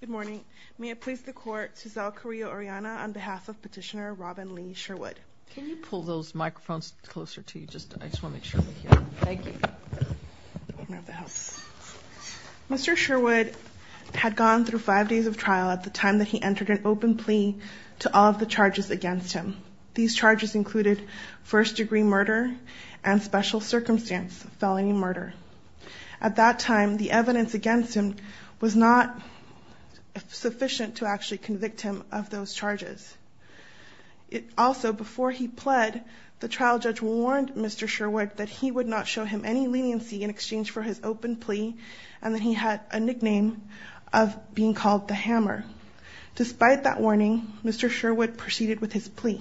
Good morning. May I please the court, Suzelle Carrillo-Oreana, on behalf of Petitioner Robin Lee Sherwood. Can you pull those microphones closer to you? I just want to make sure they're here. Thank you. Mr. Sherwood had gone through five days of trial at the time that he entered an open plea to all of the charges against him. These charges included first degree murder and special circumstance felony murder. At that time, the evidence against him was not sufficient to actually convict him of those charges. Also, before he pled, the trial judge warned Mr. Sherwood that he would not show him any leniency in exchange for his open plea, and that he had a nickname of being called the Hammer. Despite that warning, Mr. Sherwood proceeded with his plea.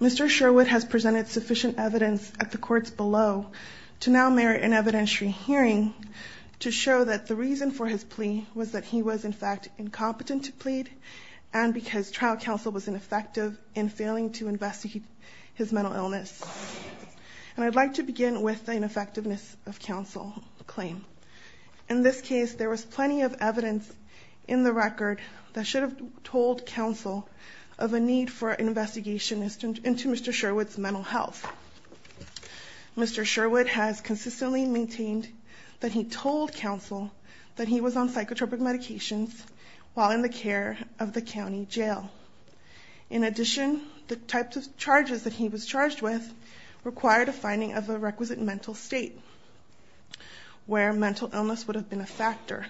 Mr. Sherwood has presented sufficient evidence at the courts below to now merit an evidentiary hearing to show that the reason for his plea was that he was in fact incompetent to plead and because trial counsel was ineffective in failing to investigate his mental illness. And I'd like to begin with the ineffectiveness of counsel claim. In this case, there was plenty of evidence in the record that should have told counsel of a need for an investigation into Mr. Sherwood's mental health. Mr. Sherwood has consistently maintained that he told counsel that he was on psychotropic medications while in the care of the county jail. In addition, the types of charges that he was charged with required a finding of a requisite mental state where mental illness would have been a factor.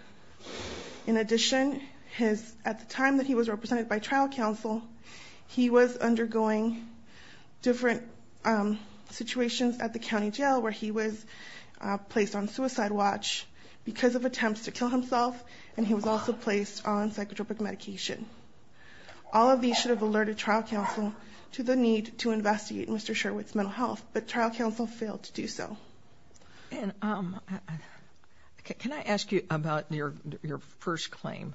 In addition, at the time that he was represented by trial counsel, he was undergoing different situations at the county jail where he was placed on suicide watch because of attempts to kill himself, and he was also placed on psychotropic medication. All of these should have alerted trial counsel to the need to investigate Mr. Sherwood's mental health, but trial counsel failed to do so. And can I ask you about your first claim?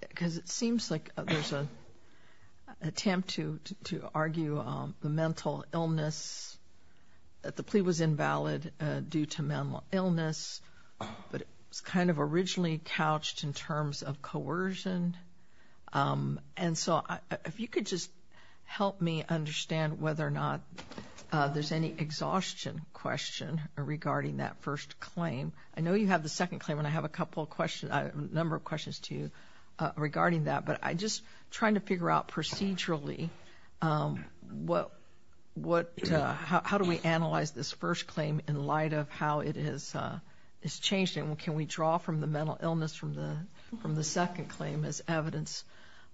Because it seems like there's an attempt to argue the mental illness, that the plea was invalid due to mental illness, but it was kind of originally couched in terms of coercion. And so if you could just help me understand whether or not there's any exhaustion question regarding that first claim. I know you have the second claim, and I have a number of questions to you regarding that, but I'm just trying to figure out procedurally, how do we analyze this first claim in light of how it has changed, and can we draw from the mental illness from the second claim as evidence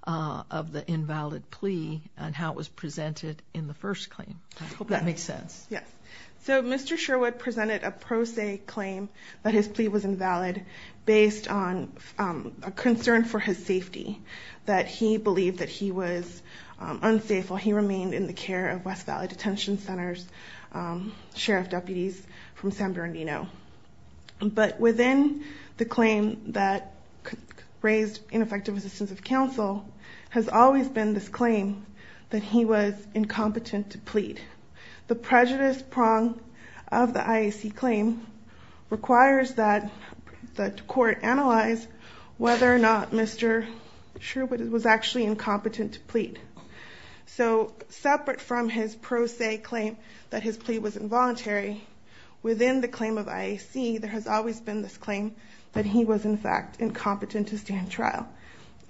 of the invalid plea and how it was presented in the first claim? I hope that makes sense. Yes. So Mr. Sherwood presented a pro se claim that his plea was invalid based on a concern for his safety, that he believed that he was unsafe while he remained in the care of West Valley Detention Center's sheriff deputies from San Bernardino. But within the claim that raised ineffective assistance of counsel has always been this claim that he was incompetent to plead. The prejudice prong of the IAC claim requires that the court analyze whether or not Mr. Sherwood was actually incompetent to plead. So separate from his pro se claim that his plea was involuntary, within the claim of IAC there has always been this claim that he was in fact incompetent to stand trial.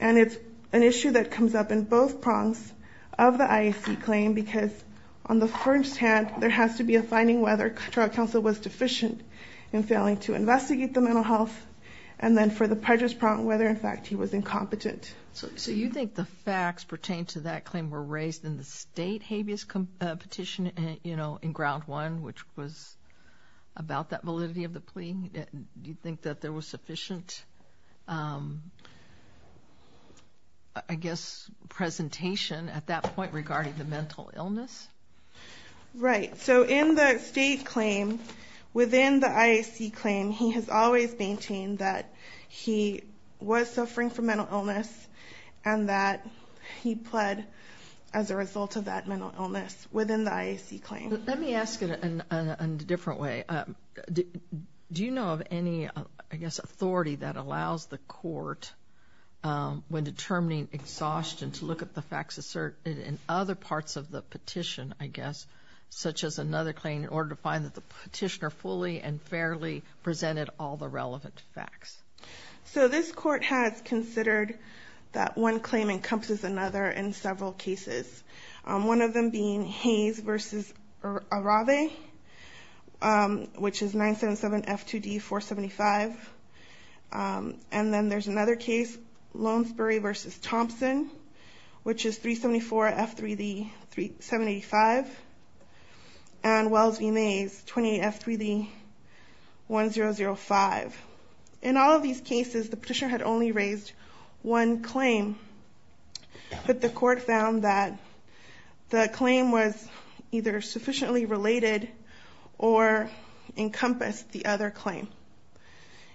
And it's an issue that comes up in both prongs of the IAC claim, because on the first hand there has to be a finding whether trial counsel was deficient in failing to investigate the mental health and then for the prejudice prong whether in fact he was incompetent. So you think the facts pertaining to that claim were raised in the state habeas petition in ground one, which was about that validity of the plea? Do you think that there was sufficient, I guess, presentation at that point regarding the mental illness? Right. So in the state claim, within the IAC claim, he has always maintained that he was suffering from mental illness and that he pled as a result of that mental illness within the IAC claim. Let me ask it in a different way. Do you know of any, I guess, authority that allows the court when determining exhaustion to look at the facts asserted in other parts of the petition, I guess, such as another claim in order to find that the petitioner fully and fairly presented all the relevant facts? So this court has considered that one claim encompasses another in several cases. One of them being Hayes v. Arave, which is 977 F2D 475. And then there's another case, Lonesbury v. Thompson, which is 374 F3D 785. And Wells v. Mays, 28 F3D 1005. In all of these cases, the petitioner had only raised one claim, but the court found that the claim was either sufficiently related or encompassed the other claim.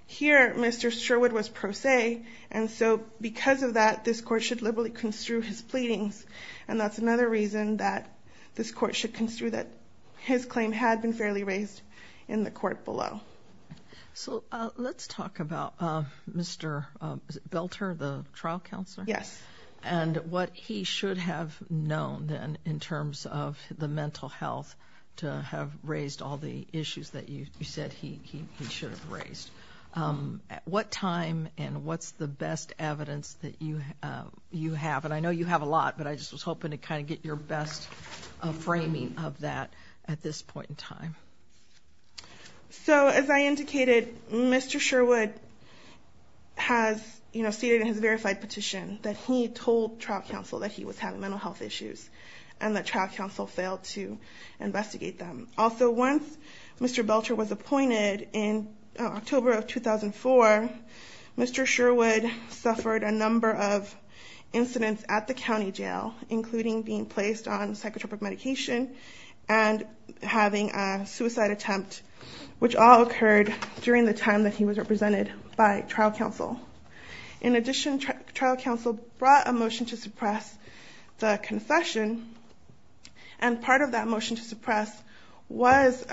Here, Mr. Sherwood was pro se, and so because of that, this court should liberally construe his pleadings. And that's another reason that this court should construe that his claim had been fairly raised in the court below. So let's talk about Mr. Belter, the trial counselor. Yes. And what he should have known then in terms of the mental health to have raised all the issues that you said he should have raised. What time and what's the best evidence that you have? And I know you have a lot, but I just was hoping to kind of get your best framing of that at this point in time. So as I indicated, Mr. Sherwood has, you know, stated in his verified petition that he told trial counsel that he was having mental health issues and that trial counsel failed to investigate them. Also, once Mr. Belter was appointed in October of 2004, Mr. Sherwood suffered a number of incidents at the county jail, including being placed on psychotropic medication and having a suicide attempt, which all occurred during the time that he was represented by trial counsel. In addition, trial counsel brought a motion to suppress the confession. And part of that motion to suppress was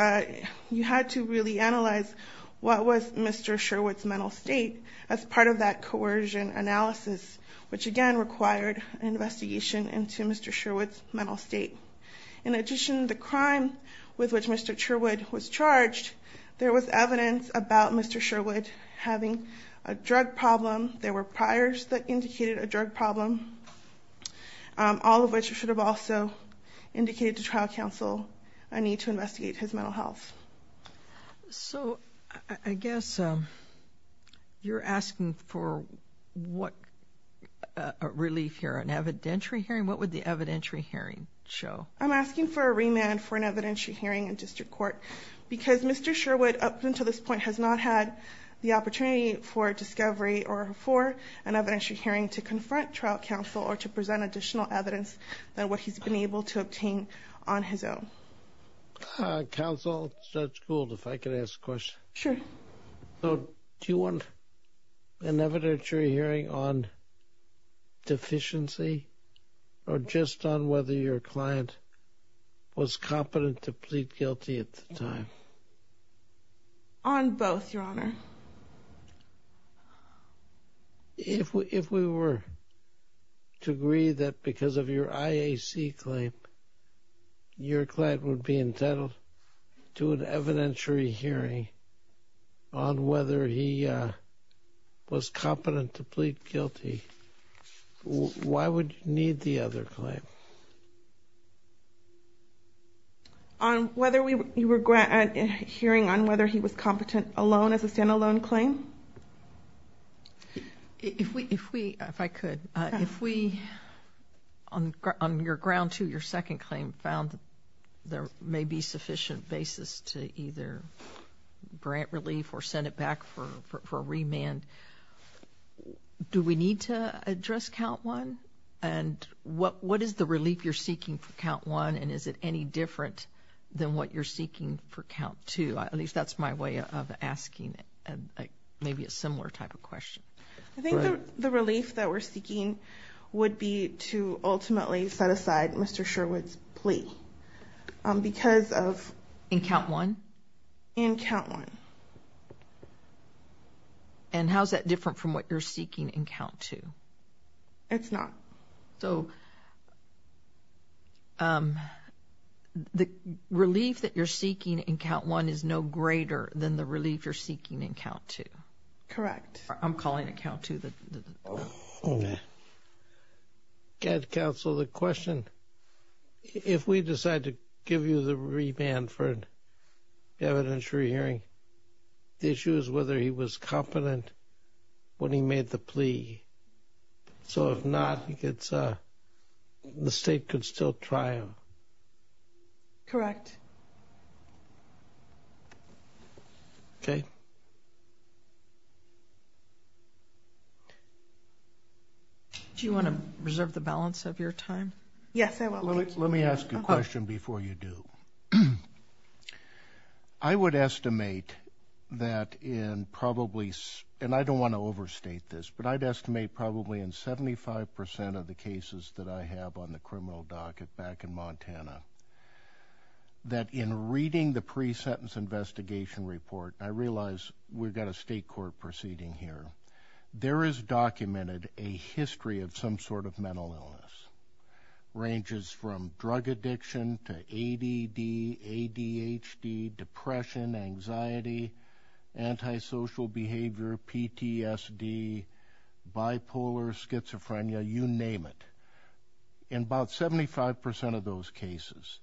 you had to really analyze what was Mr. Sherwood's mental state as part of that coercion analysis, which again required an investigation into Mr. Sherwood's mental state. In addition, the crime with which Mr. Sherwood was charged, there was evidence about Mr. Sherwood having a drug problem. There were priors that indicated a drug problem, all of which should have also indicated to trial counsel a need to investigate his mental health. So I guess you're asking for what relief here, an evidentiary hearing? I'm asking for a remand for an evidentiary hearing in district court, because Mr. Sherwood up until this point has not had the opportunity for discovery or for an evidentiary hearing to confront trial counsel or to present additional evidence than what he's been able to obtain on his own. Counsel, Judge Gould, if I could ask a question. Sure. Do you want an evidentiary hearing on deficiency or just on whether your client was competent to plead guilty at the time? On both, Your Honor. If we were to agree that because of your IAC claim, your client would be entitled to an evidentiary hearing on whether he was competent to plead guilty, why would you need the other claim? On whether we were hearing on whether he was competent alone as a stand-alone claim? If we, if we, if I could. If we, on your ground two, your second claim, found there may be sufficient basis to either grant relief or send it back for a remand, do we need to address count one? And what is the relief you're seeking for count one, and is it any different than what you're seeking for count two? At least that's my way of asking maybe a similar type of question. I think the relief that we're seeking would be to ultimately set aside Mr. Sherwood's plea because of... In count one? In count one. And how is that different from what you're seeking in count two? It's not. So the relief that you're seeking in count one is no greater than the relief you're seeking in count two? Correct. I'm calling it count two. Counsel, the question, if we decide to give you the remand for evidentiary hearing, the issue is whether he was competent when he made the plea. So if not, the state could still try him. Correct. Okay. Do you want to reserve the balance of your time? Yes, I will. Let me ask you a question before you do. I would estimate that in probably, and I don't want to overstate this, but I'd estimate probably in 75% of the cases that I have on the criminal docket back in Montana, that in reading the pre-sentence investigation report, I realize we've got a state court proceeding here, there is documented a history of some sort of mental illness. Ranges from drug addiction to ADD, ADHD, depression, anxiety, antisocial behavior, PTSD, bipolar, schizophrenia, you name it. In about 75% of those cases,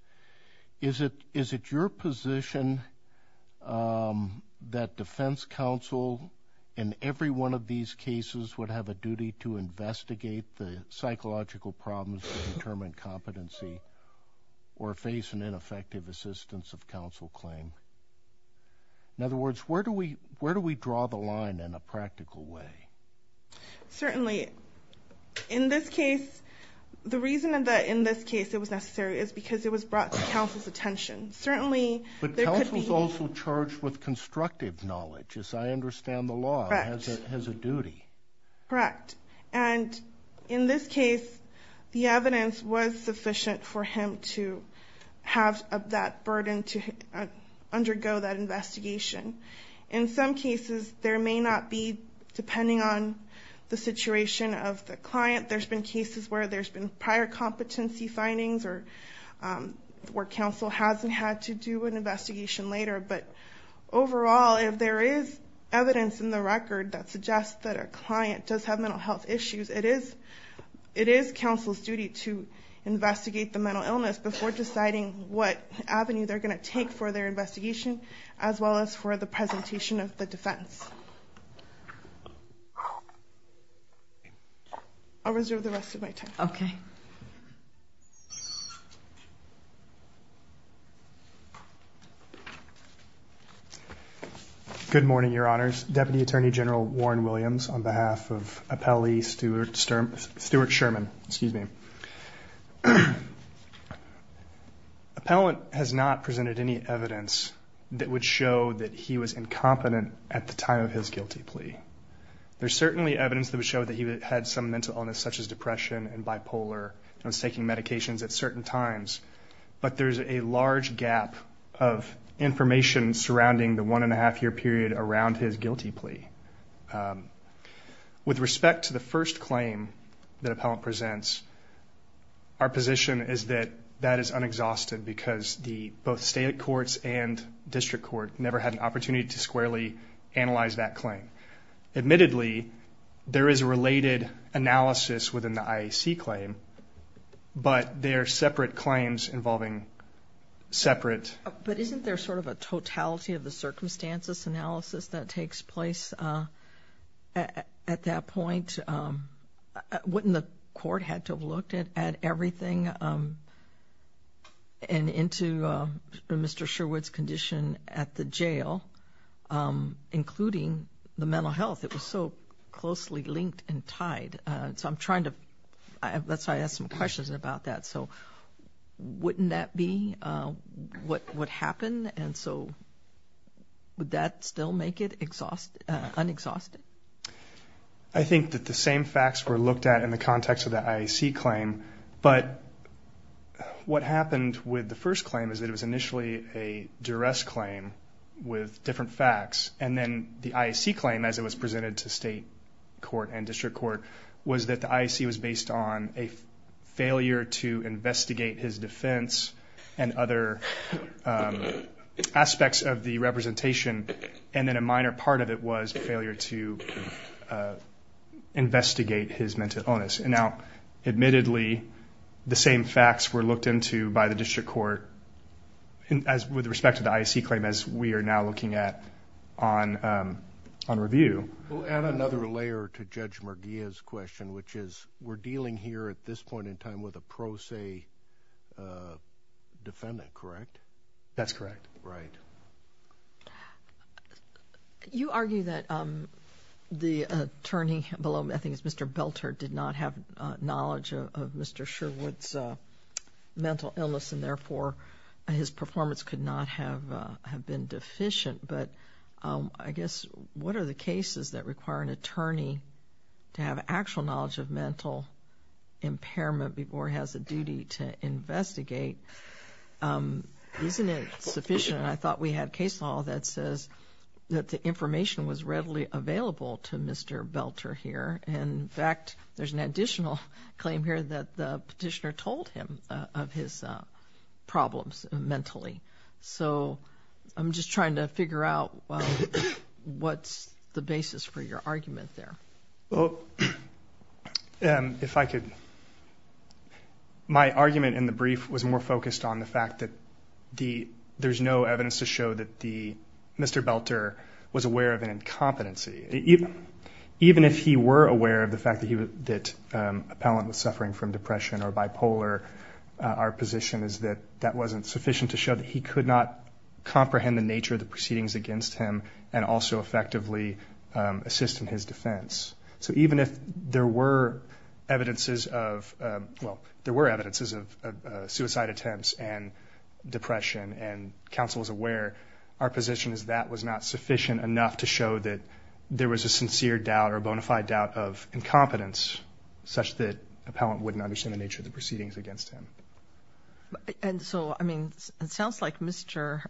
is it your position that defense counsel in every one of these cases would have a duty to investigate the psychological problems to determine competency or face an ineffective assistance of counsel claim? In other words, where do we draw the line in a practical way? Certainly. In this case, the reason that in this case it was necessary is because it was brought to counsel's attention. But counsel's also charged with constructive knowledge, as I understand the law, as a duty. Correct. And in this case, the evidence was sufficient for him to have that burden to undergo that investigation. In some cases, there may not be, depending on the situation of the client, there's been cases where there's been prior competency findings or where counsel hasn't had to do an investigation later. But overall, if there is evidence in the record that suggests that a client does have mental health issues, it is counsel's duty to investigate the mental illness before deciding what avenue they're going to take for their investigation, as well as for the presentation of the defense. I'll reserve the rest of my time. Okay. Good morning, Your Honors. Deputy Attorney General Warren Williams on behalf of Appellee Stuart Sherman. Excuse me. Appellant has not presented any evidence that would show that he was incompetent at the time of his guilty plea. There's certainly evidence that would show that he had some mental illness such as depression and bipolar and was taking medications at certain times, but there's a large gap of information surrounding the one-and-a-half-year period around his guilty plea. With respect to the first claim that Appellant presents, our position is that that is unexhausted because both state courts and district court never had an opportunity to squarely analyze that claim. Admittedly, there is a related analysis within the IAC claim, but they are separate claims involving separate... At that point, wouldn't the court have had to have looked at everything and into Mr. Sherwood's condition at the jail, including the mental health? It was so closely linked and tied. So I'm trying to... That's why I asked some questions about that. So wouldn't that be what would happen? And so would that still make it unexhausted? I think that the same facts were looked at in the context of the IAC claim, but what happened with the first claim is that it was initially a duress claim with different facts, and then the IAC claim, as it was presented to state court and district court, was that the IAC was based on a failure to investigate his defense and other aspects of the representation, and then a minor part of it was a failure to investigate his mental illness. And now, admittedly, the same facts were looked into by the district court with respect to the IAC claim as we are now looking at on review. We'll add another layer to Judge Murguia's question, which is we're dealing here at this point in time with a pro se defendant, correct? That's correct. Right. You argue that the attorney below, I think it's Mr. Belter, did not have knowledge of Mr. Sherwood's mental illness and therefore his performance could not have been deficient, but I guess what are the cases that require an attorney to have actual knowledge of mental impairment before he has a duty to investigate? Isn't it sufficient? I thought we had case law that says that the information was readily available to Mr. Belter here. In fact, there's an additional claim here that the petitioner told him of his problems mentally. So I'm just trying to figure out what's the basis for your argument there. Well, if I could, my argument in the brief was more focused on the fact that there's no evidence to show that Mr. Belter was aware of an incompetency. Even if he were aware of the fact that Appellant was suffering from depression or bipolar, our position is that that wasn't sufficient to show that he could not comprehend the nature of the proceedings against him and also effectively assist in his defense. So even if there were evidences of suicide attempts and depression and counsel was aware, our position is that was not sufficient enough to show that there was a sincere doubt or a bona fide doubt of incompetence such that Appellant wouldn't understand the nature of the proceedings against him. And so, I mean, it sounds like Mr.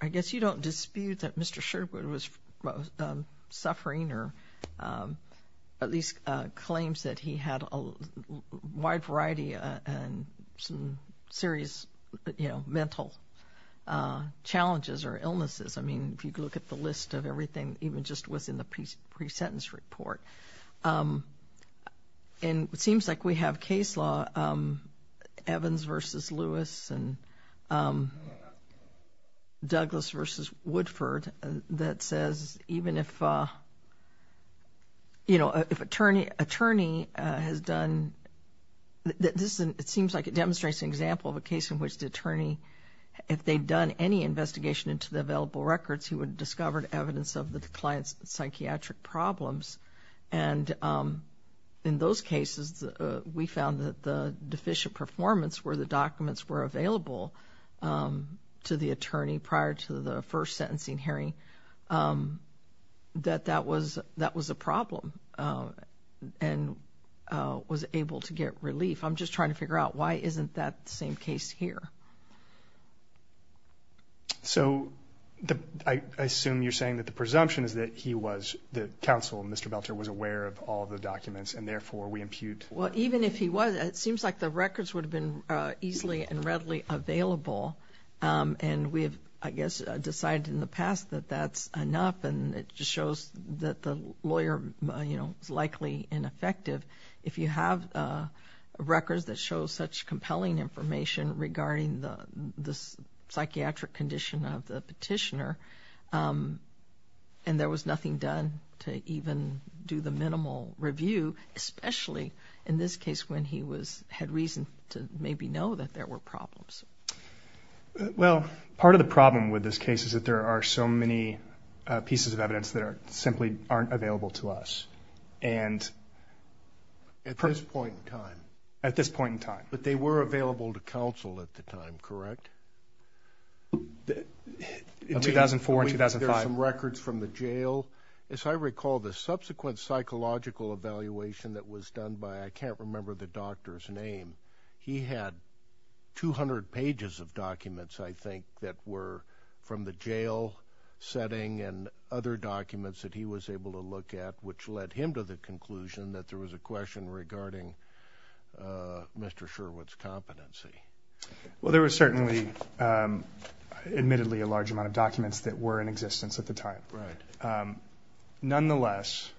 I guess you don't dispute that Mr. Sherwood was suffering or at least claims that he had a wide variety and some serious mental challenges or illnesses. I mean, if you look at the list of everything, even just what's in the pre-sentence report. And it seems like we have case law, Evans v. Lewis and Douglas v. Woodford, that says even if, you know, if an attorney has done, it seems like it demonstrates an example of a case in which the attorney, if they'd done any investigation into the available records, he would have discovered evidence of the client's psychiatric problems. And in those cases, we found that the deficient performance where the documents were available to the attorney prior to the first sentencing hearing, that that was a problem and was able to get relief. I'm just trying to figure out why isn't that the same case here? So I assume you're saying that the presumption is that he was, the counsel, Mr. Belter was aware of all the documents and therefore we impute. Well, even if he was, it seems like the records would have been easily and readily available. And we have, I guess, decided in the past that that's enough. And it just shows that the lawyer, you know, is likely ineffective. If you have records that show such compelling information regarding the psychiatric condition of the petitioner and there was nothing done to even do the minimal review, especially in this case when he had reason to maybe know that there were problems. Well, part of the problem with this case is that there are so many pieces of evidence that simply aren't available to us. At this point in time. At this point in time. But they were available to counsel at the time, correct? In 2004 and 2005. There's some records from the jail. As I recall, the subsequent psychological evaluation that was done by, I can't remember the doctor's name, he had 200 pages of documents, I think, that were from the jail setting and other documents that he was able to look at, which led him to the conclusion that there was a question regarding Mr. Sherwood's competency. Well, there was certainly, admittedly, a large amount of documents that were in existence at the time. Right. Nonetheless,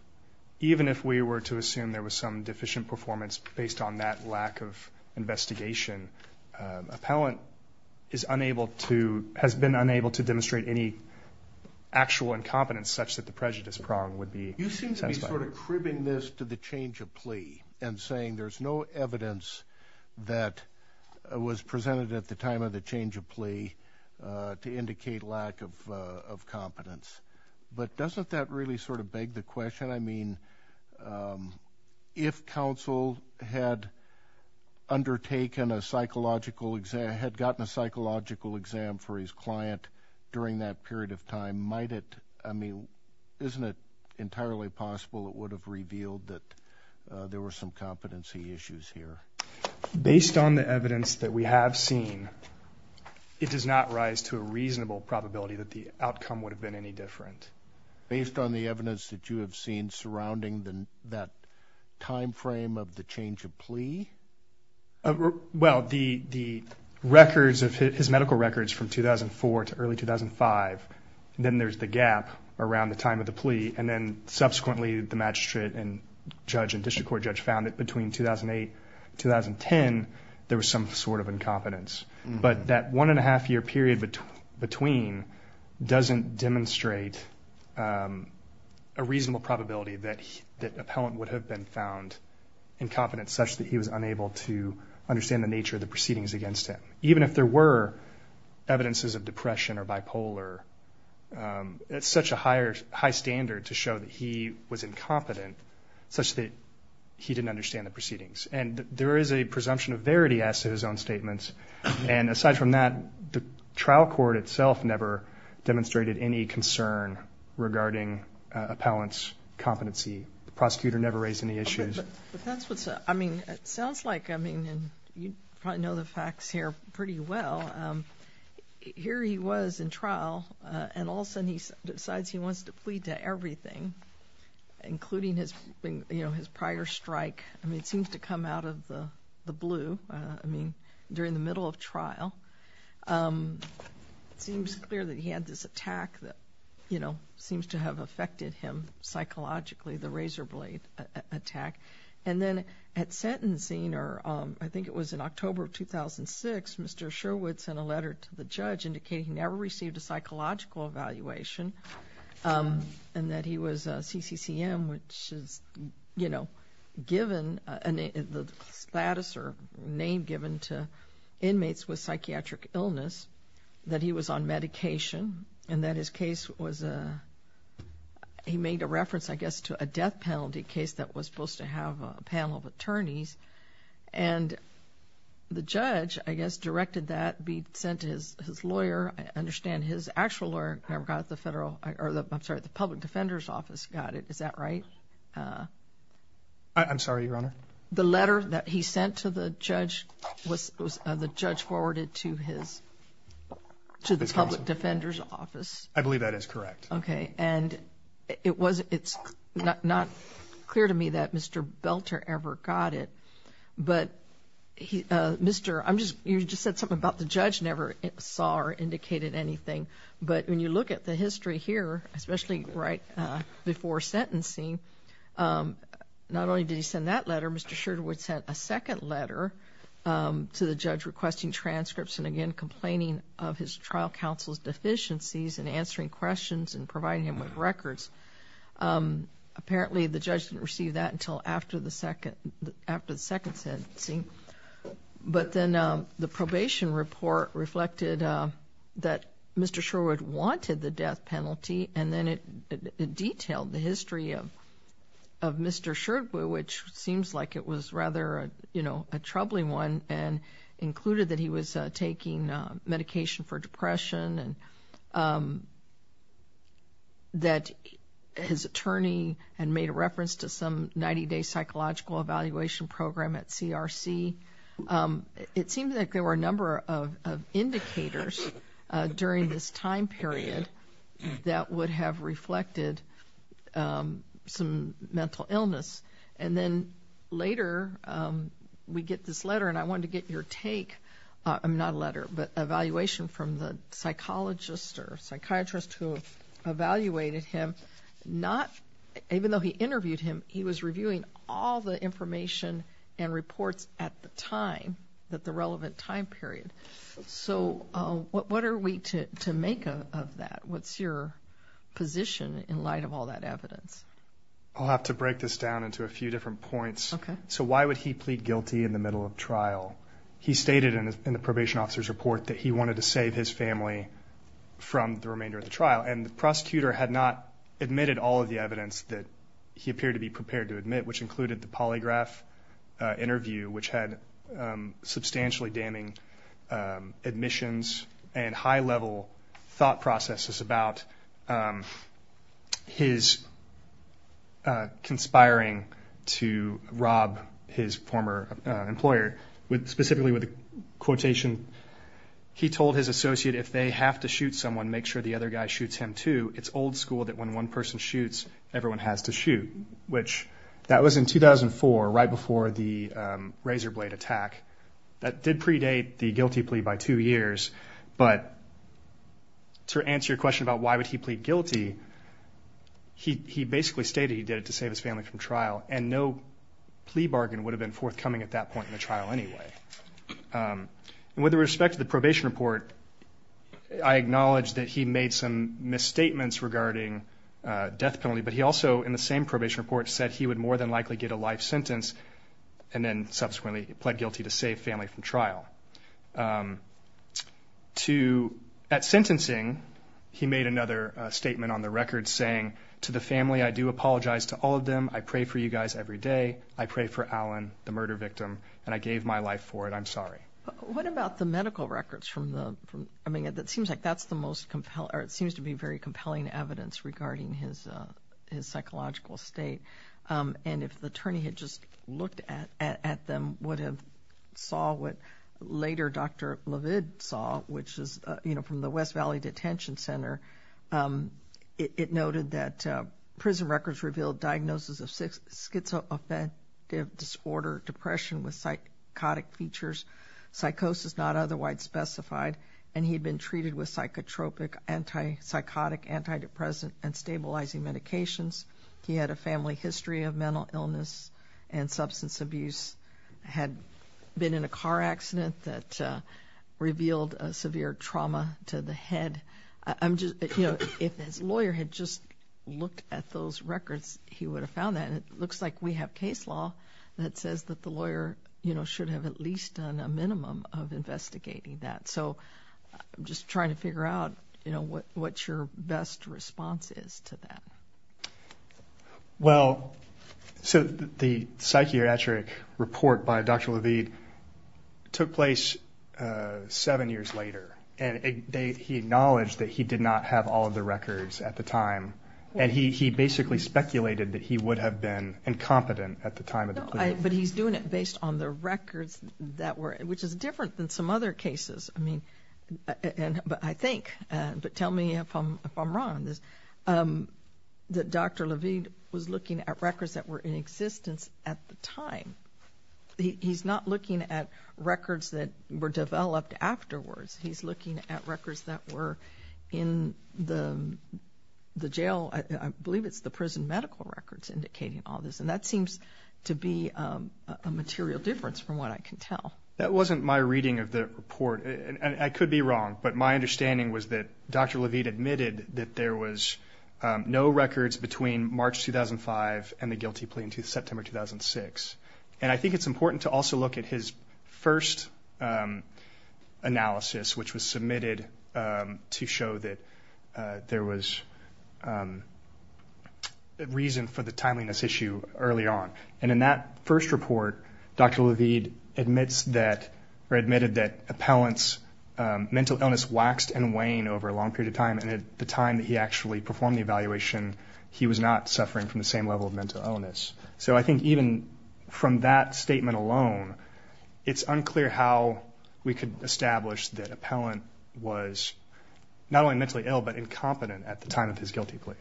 even if we were to assume there was some deficient performance based on that lack of investigation, appellant has been unable to demonstrate any actual incompetence such that the prejudice prong would be satisfied. You seem to be sort of cribbing this to the change of plea and saying there's no evidence that was presented at the time of the change of plea to indicate lack of competence. But doesn't that really sort of beg the question? I mean, if counsel had undertaken a psychological exam, had gotten a psychological exam for his client during that period of time, might it, I mean, isn't it entirely possible it would have revealed that there were some competency issues here? Based on the evidence that we have seen, it does not rise to a reasonable probability that the outcome would have been any different. Based on the evidence that you have seen surrounding that time frame of the change of plea? Well, the records of his medical records from 2004 to early 2005, then there's the gap around the time of the plea, and then subsequently the magistrate and judge and district court judge found that between 2008, 2010, there was some sort of incompetence. But that one-and-a-half-year period between doesn't demonstrate a reasonable probability that an appellant would have been found incompetent, such that he was unable to understand the nature of the proceedings against him. Even if there were evidences of depression or bipolar, it's such a high standard to show that he was incompetent, such that he didn't understand the proceedings. And there is a presumption of verity as to his own statements. And aside from that, the trial court itself never demonstrated any concern regarding appellant's competency. The prosecutor never raised any issues. But that's what's up. I mean, it sounds like, I mean, you probably know the facts here pretty well. Here he was in trial, and all of a sudden he decides he wants to plead to everything, including his prior strike. I mean, it seems to come out of the blue. I mean, during the middle of trial, it seems clear that he had this attack that, you know, seems to have affected him psychologically, the razor blade attack. And then at sentencing, or I think it was in October of 2006, Mr. Sherwood sent a letter to the judge indicating he never received a psychological evaluation and that he was CCCM, which is, you know, given the status or name given to inmates with psychiatric illness, that he was on medication, and that his case was a, he made a reference, I guess, to a death penalty case that was supposed to have a panel of attorneys. And the judge, I guess, directed that be sent to his lawyer. I understand his actual lawyer never got the federal, or I'm sorry, the public defender's office got it. Is that right? I'm sorry, Your Honor. The letter that he sent to the judge was the judge forwarded to his, to the public defender's office? I believe that is correct. Okay. And it was, it's not clear to me that Mr. Belter ever got it. But Mr. I'm just, you just said something about the judge never saw or indicated anything. But when you look at the history here, especially right before sentencing, not only did he send that letter, Mr. Sherwood sent a second letter to the judge requesting transcripts and again complaining of his trial counsel's deficiencies in answering questions and providing him with records. Apparently, the judge didn't receive that until after the second, after the second sentencing. But then the probation report reflected that Mr. Sherwood wanted the death penalty and then it detailed the history of Mr. Sherwood, which seems like it was rather, you know, a troubling one and included that he was taking medication for depression and that his attorney had made a reference to some 90-day psychological evaluation program at CRC. It seems like there were a number of indicators during this time period that would have reflected some mental illness. And then later, we get this letter and I wanted to get your take. I mean, not a letter, but evaluation from the psychologist or psychiatrist who evaluated him. Not, even though he interviewed him, he was reviewing all the information and reports at the time, at the relevant time period. So what are we to make of that? What's your position in light of all that evidence? I'll have to break this down into a few different points. So why would he plead guilty in the middle of trial? He stated in the probation officer's report that he wanted to save his family from the remainder of the trial. And the prosecutor had not admitted all of the evidence that he appeared to be prepared to admit, which included the polygraph interview, which had substantially damning admissions and high-level thought processes about his conspiring to rob his former employer. Specifically with the quotation, he told his associate, if they have to shoot someone, make sure the other guy shoots him too. It's old school that when one person shoots, everyone has to shoot, which that was in 2004, right before the razor blade attack. That did predate the guilty plea by two years, but to answer your question about why would he plead guilty, he basically stated he did it to save his family from trial, and no plea bargain would have been forthcoming at that point in the trial anyway. And with respect to the probation report, I acknowledge that he made some misstatements regarding death penalty, but he also, in the same probation report, said he would more than likely get a life sentence and then subsequently pled guilty to save family from trial. At sentencing, he made another statement on the record saying, to the family, I do apologize to all of them. I pray for you guys every day. I pray for Alan, the murder victim, and I gave my life for it. I'm sorry. What about the medical records? I mean, it seems like that's the most compelling, or it seems to be very compelling evidence regarding his psychological state. And if the attorney had just looked at them, would have saw what later Dr. LeVid saw, which is, you know, from the West Valley Detention Center, it noted that prison records revealed diagnosis of schizoaffective disorder, depression with psychotic features, psychosis not otherwise specified, and he had been treated with psychotropic, antipsychotic antidepressant and stabilizing medications. He had a family history of mental illness and substance abuse, had been in a car accident that revealed a severe trauma to the head. You know, if his lawyer had just looked at those records, he would have found that. And it looks like we have case law that says that the lawyer, you know, should have at least done a minimum of investigating that. So I'm just trying to figure out, you know, what your best response is to that. Well, so the psychiatric report by Dr. LeVid took place seven years later, and he acknowledged that he did not have all of the records at the time, and he basically speculated that he would have been incompetent at the time. But he's doing it based on the records that were, which is different than some other cases, I mean, but I think, but tell me if I'm wrong, that Dr. LeVid was looking at records that were in existence at the time. He's not looking at records that were developed afterwards. He's looking at records that were in the jail. I believe it's the prison medical records indicating all this, and that seems to be a material difference from what I can tell. That wasn't my reading of the report, and I could be wrong, but my understanding was that Dr. LeVid admitted that there was no records between March 2005 and the guilty plea until September 2006. And I think it's important to also look at his first analysis, which was submitted to show that there was reason for the timeliness issue early on. And in that first report, Dr. LeVid admits that, or admitted that appellant's mental illness waxed and waned over a long period of time, and at the time that he actually performed the evaluation, he was not suffering from the same level of mental illness. So I think even from that statement alone, it's unclear how we could establish that appellant was not only mentally ill but incompetent at the time of his guilty plea.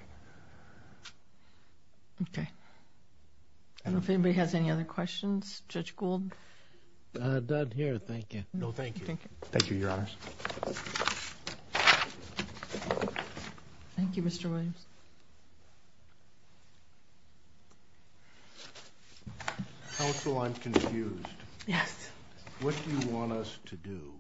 Okay. I don't know if anybody has any other questions. Judge Gould? I'm done here. Thank you. No, thank you. Thank you, Your Honors. Thank you, Mr. Williams. Counsel, I'm confused. Yes. What do you want us to do?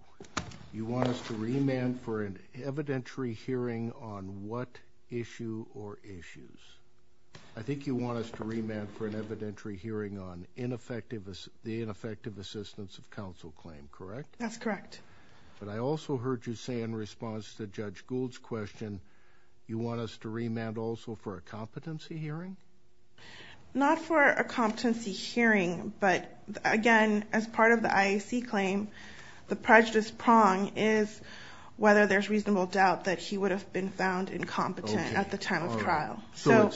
You want us to remand for an evidentiary hearing on what issue or issues? I think you want us to remand for an evidentiary hearing on the ineffective assistance of counsel claim, correct? That's correct. But I also heard you say in response to Judge Gould's question, you want us to remand also for a competency hearing? Not for a competency hearing, but, again, as part of the IAC claim, the prejudice prong is whether there's reasonable doubt that he would have been found incompetent at the time of trial. So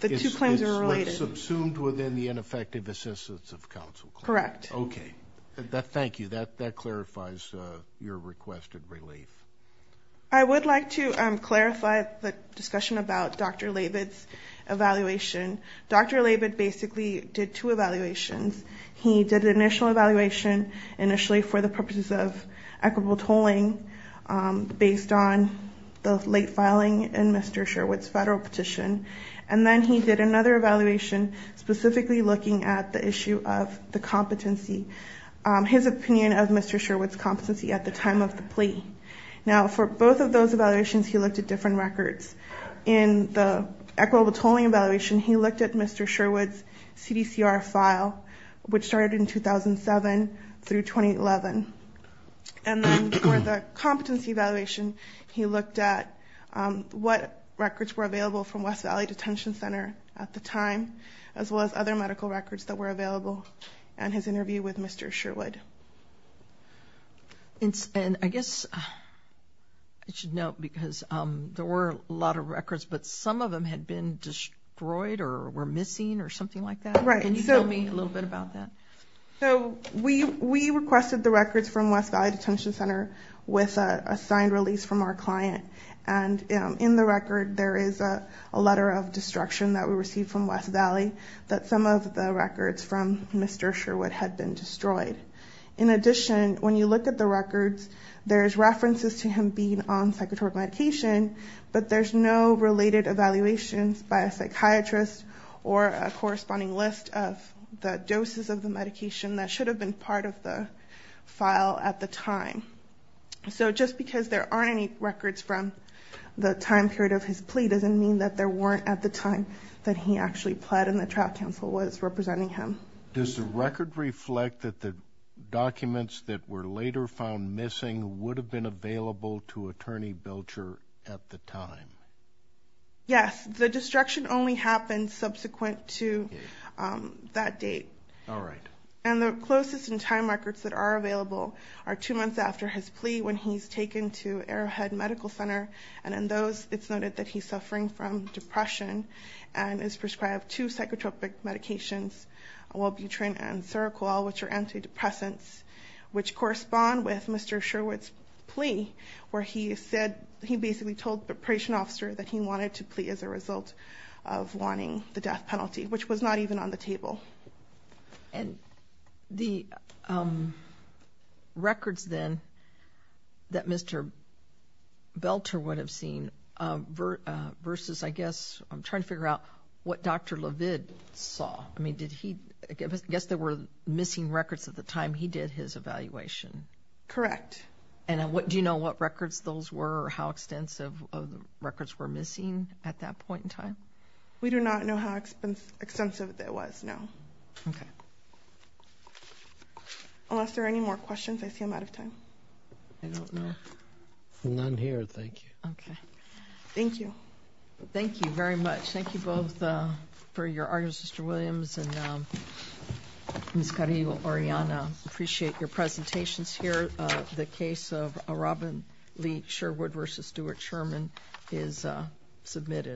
the two claims are related. So it's subsumed within the ineffective assistance of counsel claim? Correct. Okay. Thank you. That clarifies your request of relief. I would like to clarify the discussion about Dr. Labid's evaluation. Dr. Labid basically did two evaluations. He did an initial evaluation initially for the purposes of equitable tolling based on the late filing in Mr. Sherwood's federal petition, and then he did another evaluation specifically looking at the issue of the competency, his opinion of Mr. Sherwood's competency at the time of the plea. Now, for both of those evaluations, he looked at different records. In the equitable tolling evaluation, he looked at Mr. Sherwood's CDCR file, which started in 2007 through 2011. And then for the competency evaluation, he looked at what records were available from West Valley Detention Center at the time, as well as other medical records that were available, and his interview with Mr. Sherwood. And I guess I should note, because there were a lot of records, but some of them had been destroyed or were missing or something like that. Right. Can you tell me a little bit about that? So we requested the records from West Valley Detention Center with a signed release from our client, and in the record there is a letter of destruction that we received from West Valley that some of the records from Mr. Sherwood had been destroyed. In addition, when you look at the records, there's references to him being on psychotropic medication, but there's no related evaluations by a psychiatrist or a corresponding list of the doses of the medication that should have been part of the file at the time. So just because there aren't any records from the time period of his plea doesn't mean that there weren't at the time that he actually pled and the trial counsel was representing him. Does the record reflect that the documents that were later found missing would have been available to Attorney Belcher at the time? Yes. The destruction only happened subsequent to that date. All right. And the closest in time records that are available are two months after his plea when he's taken to Arrowhead Medical Center, and in those it's noted that he's suffering from depression and is prescribed two psychotropic medications, Welbutrin and Seroquel, which are antidepressants, which correspond with Mr. Sherwood's plea where he basically told the operation officer that he wanted to plea as a result of wanting the death penalty, which was not even on the table. And the records then that Mr. Belcher would have seen versus, I guess, I'm trying to figure out what Dr. LeVid saw. I mean, I guess there were missing records at the time he did his evaluation. Correct. And do you know what records those were or how extensive of the records were missing at that point in time? We do not know how extensive it was, no. Okay. Unless there are any more questions, I see I'm out of time. I don't know. None here, thank you. Okay. Thank you. Thank you very much. Thank you both for your arguments, Mr. Williams and Ms. Carillo-Oriana. I appreciate your presentations here. The case of Robin Lee Sherwood v. Stuart Sherman is submitted.